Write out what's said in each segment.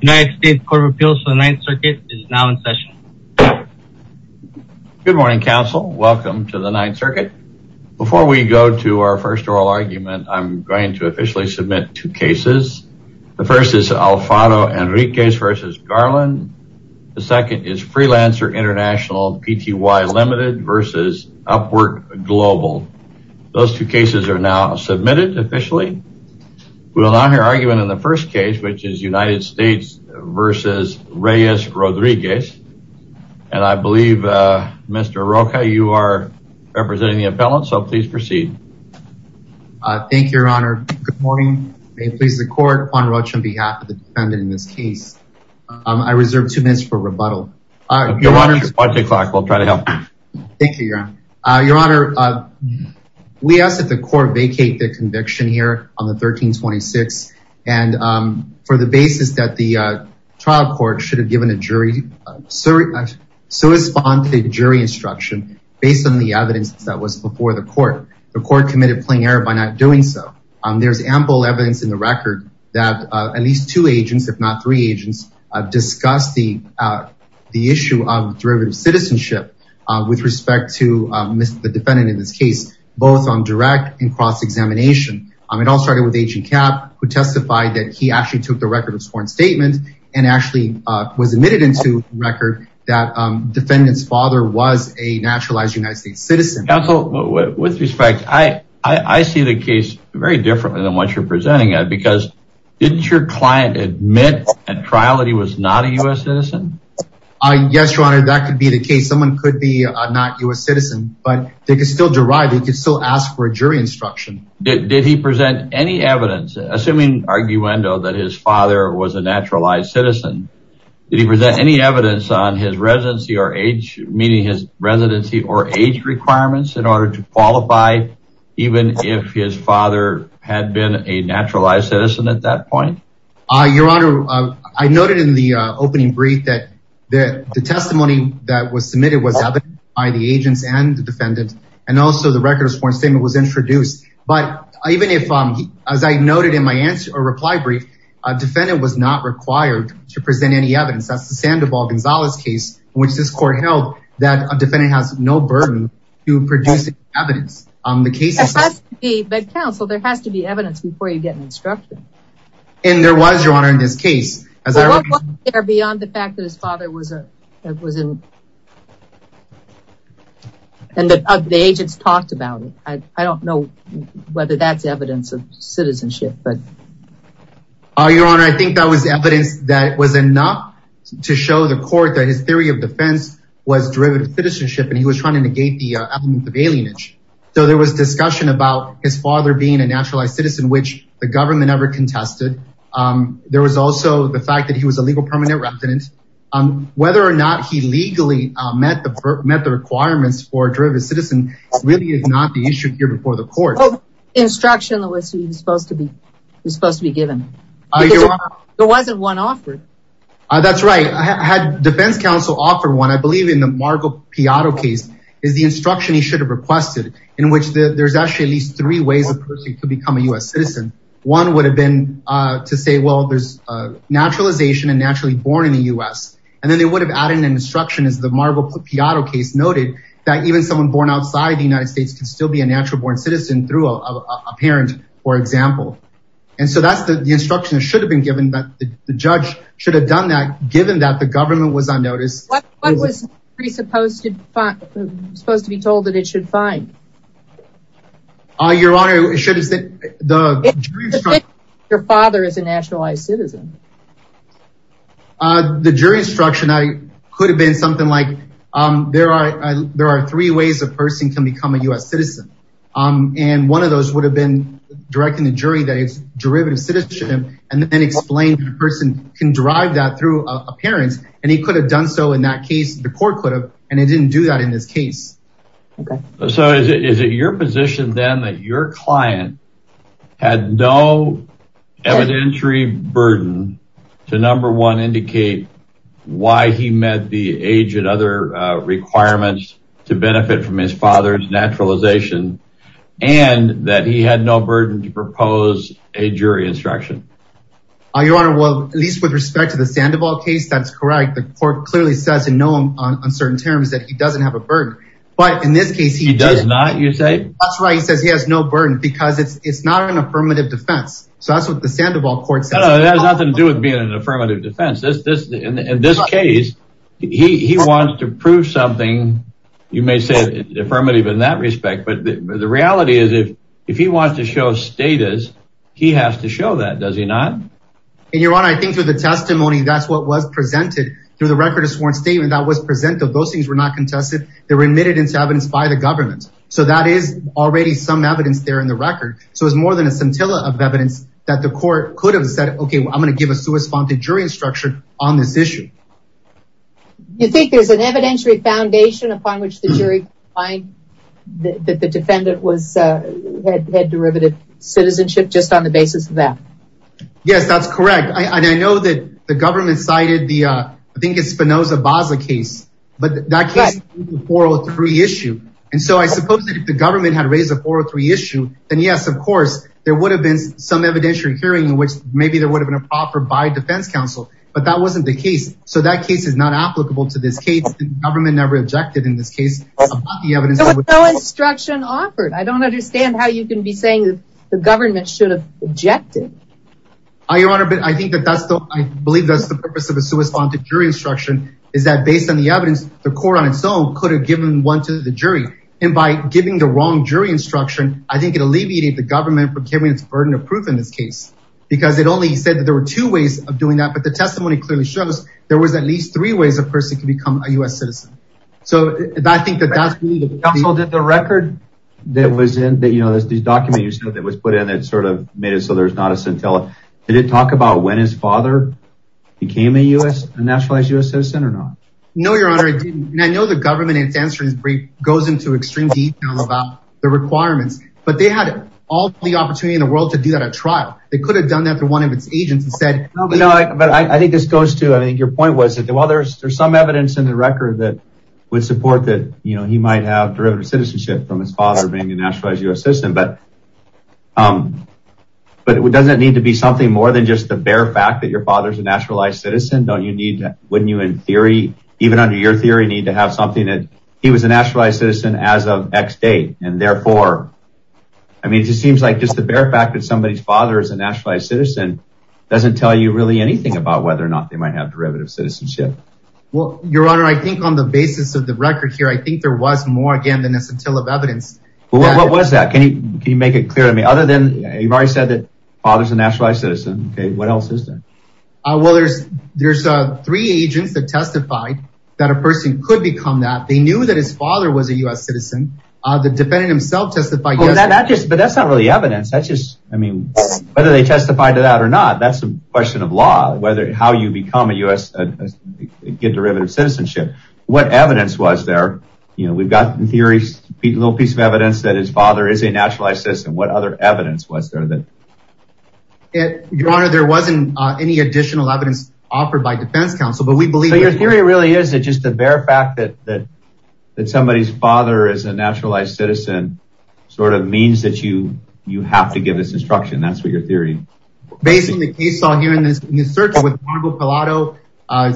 United States Court of Appeals for the Ninth Circuit is now in session. Good morning, counsel. Welcome to the Ninth Circuit. Before we go to our first oral argument, I'm going to officially submit two cases. The first is Alfano Enriquez v. Garland. The second is Freelancer International Pty Ltd. v. Upwork Global. Those two cases are now v. Reyes-Rodriguez. I believe, Mr. Rocha, you are representing the appellant, so please proceed. Thank you, Your Honor. Good morning. May it please the court, Juan Rocha on behalf of the defendant in this case. I reserve two minutes for rebuttal. Your Honor, we ask that the court vacate the trial court should have given a jury instruction based on the evidence that was before the court. The court committed plain error by not doing so. There's ample evidence in the record that at least two agents, if not three agents, discussed the issue of derivative citizenship with respect to the defendant in this case, both on direct and cross-examination. It all started with Agent Cap, who testified that he actually took the record of sworn statements and actually was admitted into record that defendant's father was a naturalized United States citizen. Counsel, with respect, I see the case very differently than what you're presenting it because didn't your client admit at trial that he was not a U.S. citizen? Yes, Your Honor, that could be the case. Someone could be a not U.S. citizen, but they could still derive. They could still ask for a jury instruction. Did he present any evidence, assuming arguendo, that his father was a naturalized citizen? Did he present any evidence on his residency or age, meaning his residency or age requirements in order to qualify even if his father had been a naturalized citizen at that point? Your Honor, I noted in the opening brief that the testimony that was submitted was sworn, and also the record of sworn statement was introduced. But even if, as I noted in my answer or reply brief, a defendant was not required to present any evidence. That's the Sandoval-Gonzalez case in which this court held that a defendant has no burden to produce evidence. But counsel, there has to be evidence before you get an instruction. And there was, Your Honor, in this case, I don't know whether that's evidence of citizenship. Your Honor, I think that was evidence that was enough to show the court that his theory of defense was derivative citizenship, and he was trying to negate the element of alienage. So there was discussion about his father being a naturalized citizen, which the government never contested. There was also the fact that he was a legal permanent resident. Whether or not he legally met the requirements for a derivative citizen really is not the issue here before the court. Instruction was supposed to be given. There wasn't one offered. That's right. I had defense counsel offer one. I believe in the Margo Piatto case is the instruction he should have requested, in which there's actually at least three ways a person could become a U.S. citizen. One would have been to say, well, there's naturalization and naturally born in the U.S. And then they would have added an instruction as the Margo Piatto case noted, even someone born outside the United States can still be a natural born citizen through a parent, for example. And so that's the instruction that should have been given, but the judge should have done that, given that the government was on notice. What was supposed to be told that it should find? Your Honor, it should have said... Your father is a nationalized citizen. The jury instruction could have been something like, there are three ways a person can become a U.S. citizen. And one of those would have been directing the jury that it's derivative citizenship, and then explain the person can drive that through a parent. And he could have done so in that case, the court could have, and it didn't do that in this case. So is it your position then that your client had no evidentiary burden to number one, indicate why he met the age and other requirements to benefit from his father's naturalization and that he had no burden to propose a jury instruction? Your Honor, well, at least with respect to the Sandoval case, that's correct. The court clearly says in no uncertain terms that he doesn't have a burden, but in this case, he does not, you say? That's right. He says he has no burden because it's not an affirmative defense. So that's what Sandoval court says. No, that has nothing to do with being an affirmative defense. In this case, he wants to prove something, you may say affirmative in that respect, but the reality is if he wants to show status, he has to show that, does he not? Your Honor, I think through the testimony, that's what was presented through the record of sworn statement that was presented. Those things were not contested. They were admitted into evidence by the government. So that is already some evidence there in the record. So it was more than a scintilla of evidence that the court could have said, okay, well, I'm going to give a suspended jury instruction on this issue. You think there's an evidentiary foundation upon which the jury find that the defendant had derivative citizenship just on the basis of that? Yes, that's correct. I know that the government cited the, I think it's Spinoza-Baza case, but that case is a 403 issue. And so I suppose that if the government had raised a 403 issue, then yes, of course, there would have been some evidentiary hearing in which maybe there would have been a proper by defense counsel, but that wasn't the case. So that case is not applicable to this case. The government never objected in this case. There was no instruction offered. I don't understand how you can be saying the government should have objected. Your Honor, I believe that's the purpose of a suspended jury instruction is that based on the evidence, the court on its own could have given one to the jury. And by giving the wrong jury instruction, I think it alleviated the government burden of proof in this case, because it only said that there were two ways of doing that. But the testimony clearly shows there was at least three ways a person can become a U.S. citizen. So I think that that's... Counsel, did the record that was in that, you know, this document you said that was put in, that sort of made it so there's not a scintilla, did it talk about when his father became a U.S., a nationalized U.S. citizen or not? No, Your Honor, it didn't. And I know the government in its answer goes into extreme detail about the requirements, but they had all the opportunity in the world to do that at trial. They could have done that through one of its agents and said... No, but I think this goes to, I think your point was that while there's some evidence in the record that would support that, you know, he might have derivative citizenship from his father being a nationalized U.S. citizen, but doesn't it need to be something more than just the bare fact that your father's a nationalized citizen? Don't you need, wouldn't you in theory, even under your as of X date? And therefore, I mean, it just seems like just the bare fact that somebody's father is a nationalized citizen doesn't tell you really anything about whether or not they might have derivative citizenship. Well, Your Honor, I think on the basis of the record here, I think there was more, again, than a scintilla of evidence. Well, what was that? Can you make it clear to me? Other than you've already said that father's a nationalized citizen. Okay. What else is there? Well, there's three agents that testified that a person could become that. They knew that his father was a U.S. citizen. The defendant himself testified yesterday. But that's not really evidence. That's just, I mean, whether they testified to that or not, that's a question of law, whether how you become a U.S., get derivative citizenship. What evidence was there? You know, we've got theories, a little piece of evidence that his father is a nationalized citizen. What other evidence was there that? Your Honor, there wasn't any additional evidence offered by defense counsel, but we believe. Your theory really is that just the bare fact that somebody's father is a nationalized citizen sort of means that you have to give this instruction. That's what your theory. Based on the case I saw here in this search with Juan Bocalato,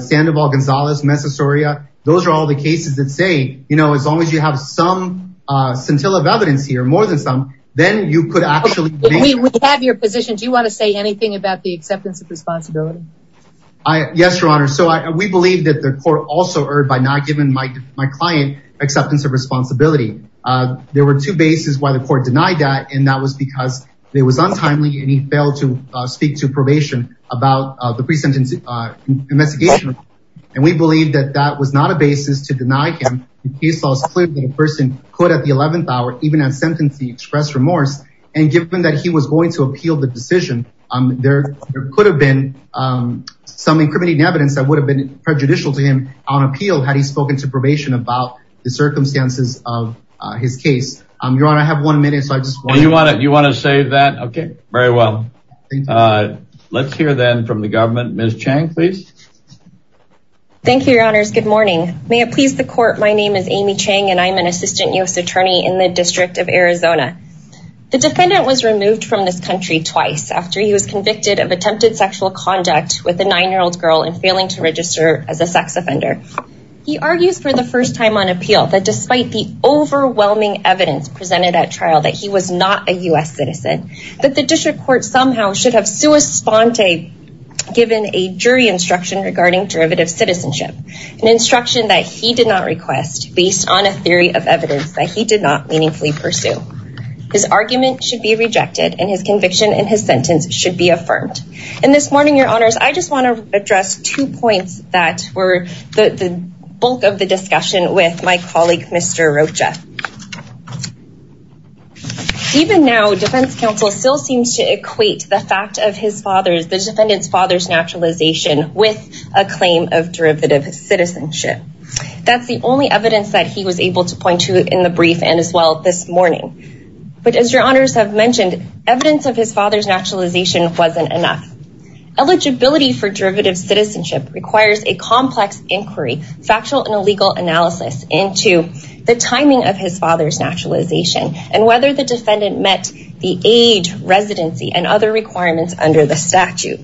Sandoval Gonzalez, Messasoria, those are all the cases that say, you know, as long as you have some scintilla of evidence here, more than some, then you could actually. If we have your position, do you want to say anything about the acceptance of responsibility? I, yes, Your Honor. So we believe that the court also erred by not giving my client acceptance of responsibility. There were two bases why the court denied that, and that was because it was untimely and he failed to speak to probation about the pre-sentence investigation. And we believe that that was not a basis to deny him. The case law is clear that a person could, at the 11th hour, even at sentencing, express remorse. And given that he was going to appeal the decision, there could have been some incriminating evidence that would have been prejudicial to him on appeal had he spoken to probation about the circumstances of his case. Your Honor, I have one minute, so I just want to... You want to save that? Okay, very well. Let's hear then from the government. Ms. Chang, please. Thank you, Your Honors. Good morning. May it please the court, my name is Amy Chang, and I'm an assistant U.S. attorney in the District of Arizona. The defendant was removed from this country twice after he was convicted of attempted sexual conduct with a nine-year-old girl and failing to register as a sex offender. He argues for the first time on appeal that despite the overwhelming evidence presented at trial that he was not a U.S. citizen, that the district court somehow should have sua sponte given a jury instruction regarding derivative citizenship, an instruction that he did not request based on a theory of evidence that he did not meaningfully pursue. His argument should be rejected and his conviction and his sentence should be affirmed. And this morning, Your Honors, I just want to address two points that were the bulk of the discussion with my colleague, Mr. Rocha. Even now, defense counsel still seems to equate the fact of his father's, the defendant's father's naturalization with a claim of derivative citizenship. That's the only evidence that he was able to point to in the brief and as well this morning. But as Your Honors have mentioned, evidence of his father's naturalization wasn't enough. Eligibility for derivative citizenship requires a complex inquiry, factual and legal analysis into the timing of his father's naturalization and whether the defendant met the age, residency, and other requirements under the statute.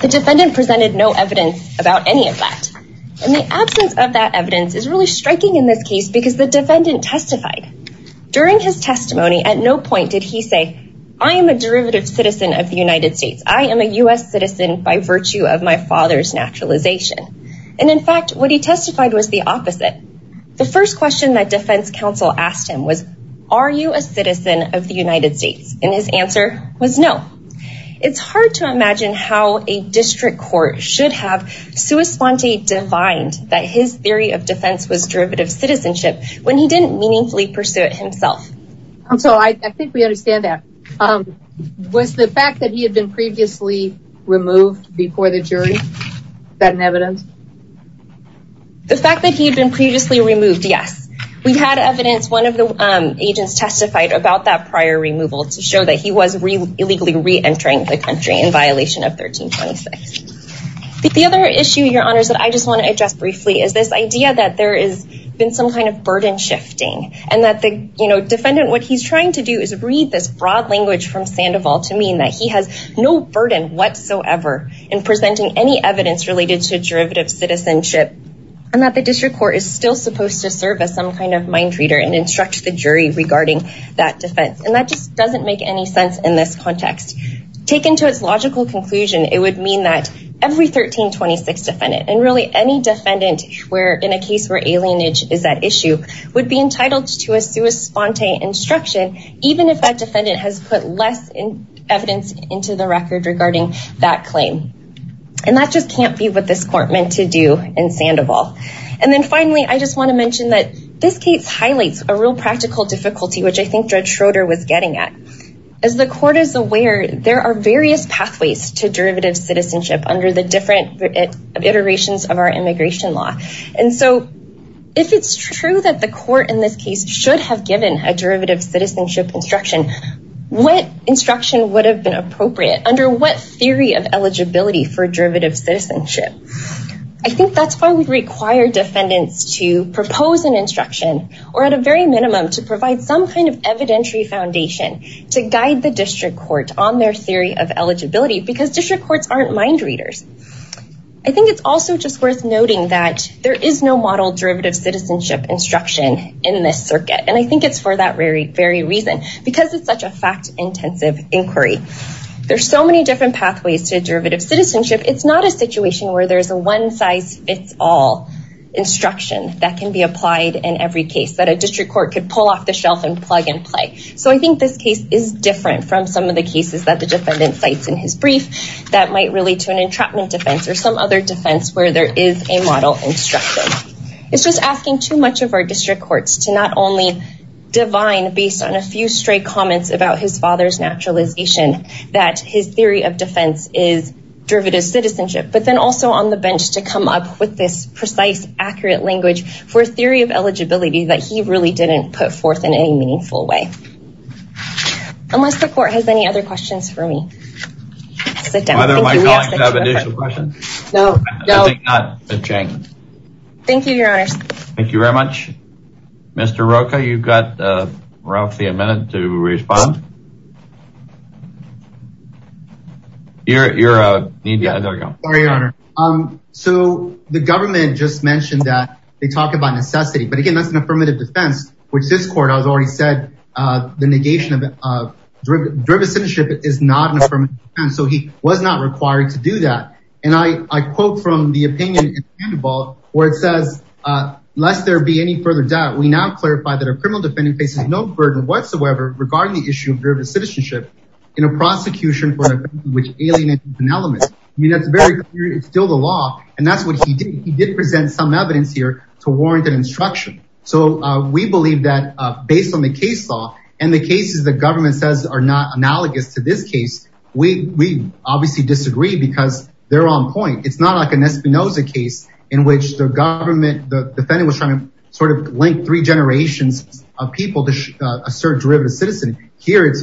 The defendant presented no evidence about any of that. And the absence of that evidence is really striking in this case because the defendant testified. During his testimony, at no point did he say, I am a derivative citizen of the United States. I am a U.S. citizen by virtue of my father's naturalization. And in fact, what he testified was the opposite. The first question that defense counsel asked him was, are you a citizen of the United States? And his answer was no. It's hard to imagine how a district court should have sui sponte defined that his theory of defense was derivative citizenship when he didn't meaningfully pursue it himself. So I think we understand that. Was the fact that he had been previously removed before the jury? Is that an evidence? The fact that he had been previously removed, yes. We've had evidence. One of the agents testified about that prior removal to that he was illegally reentering the country in violation of 1326. The other issue, your honors, that I just want to address briefly is this idea that there has been some kind of burden shifting. And that the defendant, what he's trying to do is read this broad language from Sandoval to mean that he has no burden whatsoever in presenting any evidence related to derivative citizenship. And that the district court is still supposed to serve as some kind of mind reader and instruct the jury regarding that defense. And that just doesn't make any sense in this context. Taken to its logical conclusion, it would mean that every 1326 defendant and really any defendant where in a case where alienage is at issue would be entitled to a sui sponte instruction, even if that defendant has put less in evidence into the record regarding that claim. And that just can't be what this court meant to do in Sandoval. And then finally, I just want to mention that this case highlights a real practical difficulty, which I think Judge Schroeder was getting at. As the court is aware, there are various pathways to derivative citizenship under the different iterations of our immigration law. And so if it's true that the court in this case should have given a derivative citizenship instruction, what instruction would have been appropriate under what theory of eligibility for derivative citizenship? I think that's why we require defendants to propose an instruction or at a very minimum to provide some kind of evidentiary foundation to guide the district court on their theory of eligibility because district courts aren't mind readers. I think it's also just worth noting that there is no model derivative citizenship instruction in this circuit. And I think it's for that very, very reason. Because it's such a fact intensive inquiry. There's so many different pathways to derivative citizenship. It's not a situation where there's a one size fits all instruction that can be applied in every case that a district court could pull off the shelf and plug and play. So I think this case is different from some of the cases that the defendant cites in his brief that might relate to an entrapment defense or some other defense where there is a model instruction. It's just asking too much of our district courts to not only divine based on a few stray comments about his father's naturalization, that his theory of defense is derivative citizenship, but then also on the bench to come up with this precise, accurate language for a theory of eligibility that he really didn't put forth in any meaningful way. Unless the court has any other questions for me. Whether my colleagues have additional questions? Thank you, your honor. Thank you very much. Mr. Rocha, you've got roughly a minute to respond. You're you're a need. Yeah, there we go. Sorry, your honor. So the government just mentioned that they talked about necessity, but again, that's an affirmative defense, which this court has already said, the negation of derivative citizenship is not an affirmative defense. So he was not required to do that. And I quote from the opinion in the handball, where it says, lest there be any further doubt, we now clarify that a criminal defendant faces no burden whatsoever regarding the issue of derivative citizenship in a prosecution for an offense which alienates an element. I mean, that's very clear. It's still the law. And that's what he did. He did present some evidence here to warrant an instruction. So we believe that based on the case law and the government says are not analogous to this case, we obviously disagree because they're on point. It's not like an Espinoza case in which the government, the defendant was trying to sort of link three generations of people to a certain derivative citizen. Here, it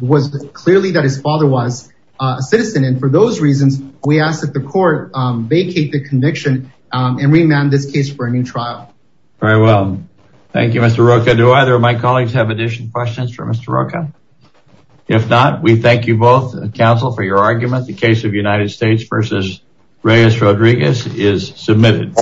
was clearly that his father was a citizen. And for those reasons, we asked that the court vacate the conviction and remand this case for a new trial. Very well. Thank you, Mr. Rocha. Do either of my colleagues have additional questions for Mr. Rocha? If not, we thank you both, counsel, for your argument. The case of United States versus Reyes-Rodriguez is submitted.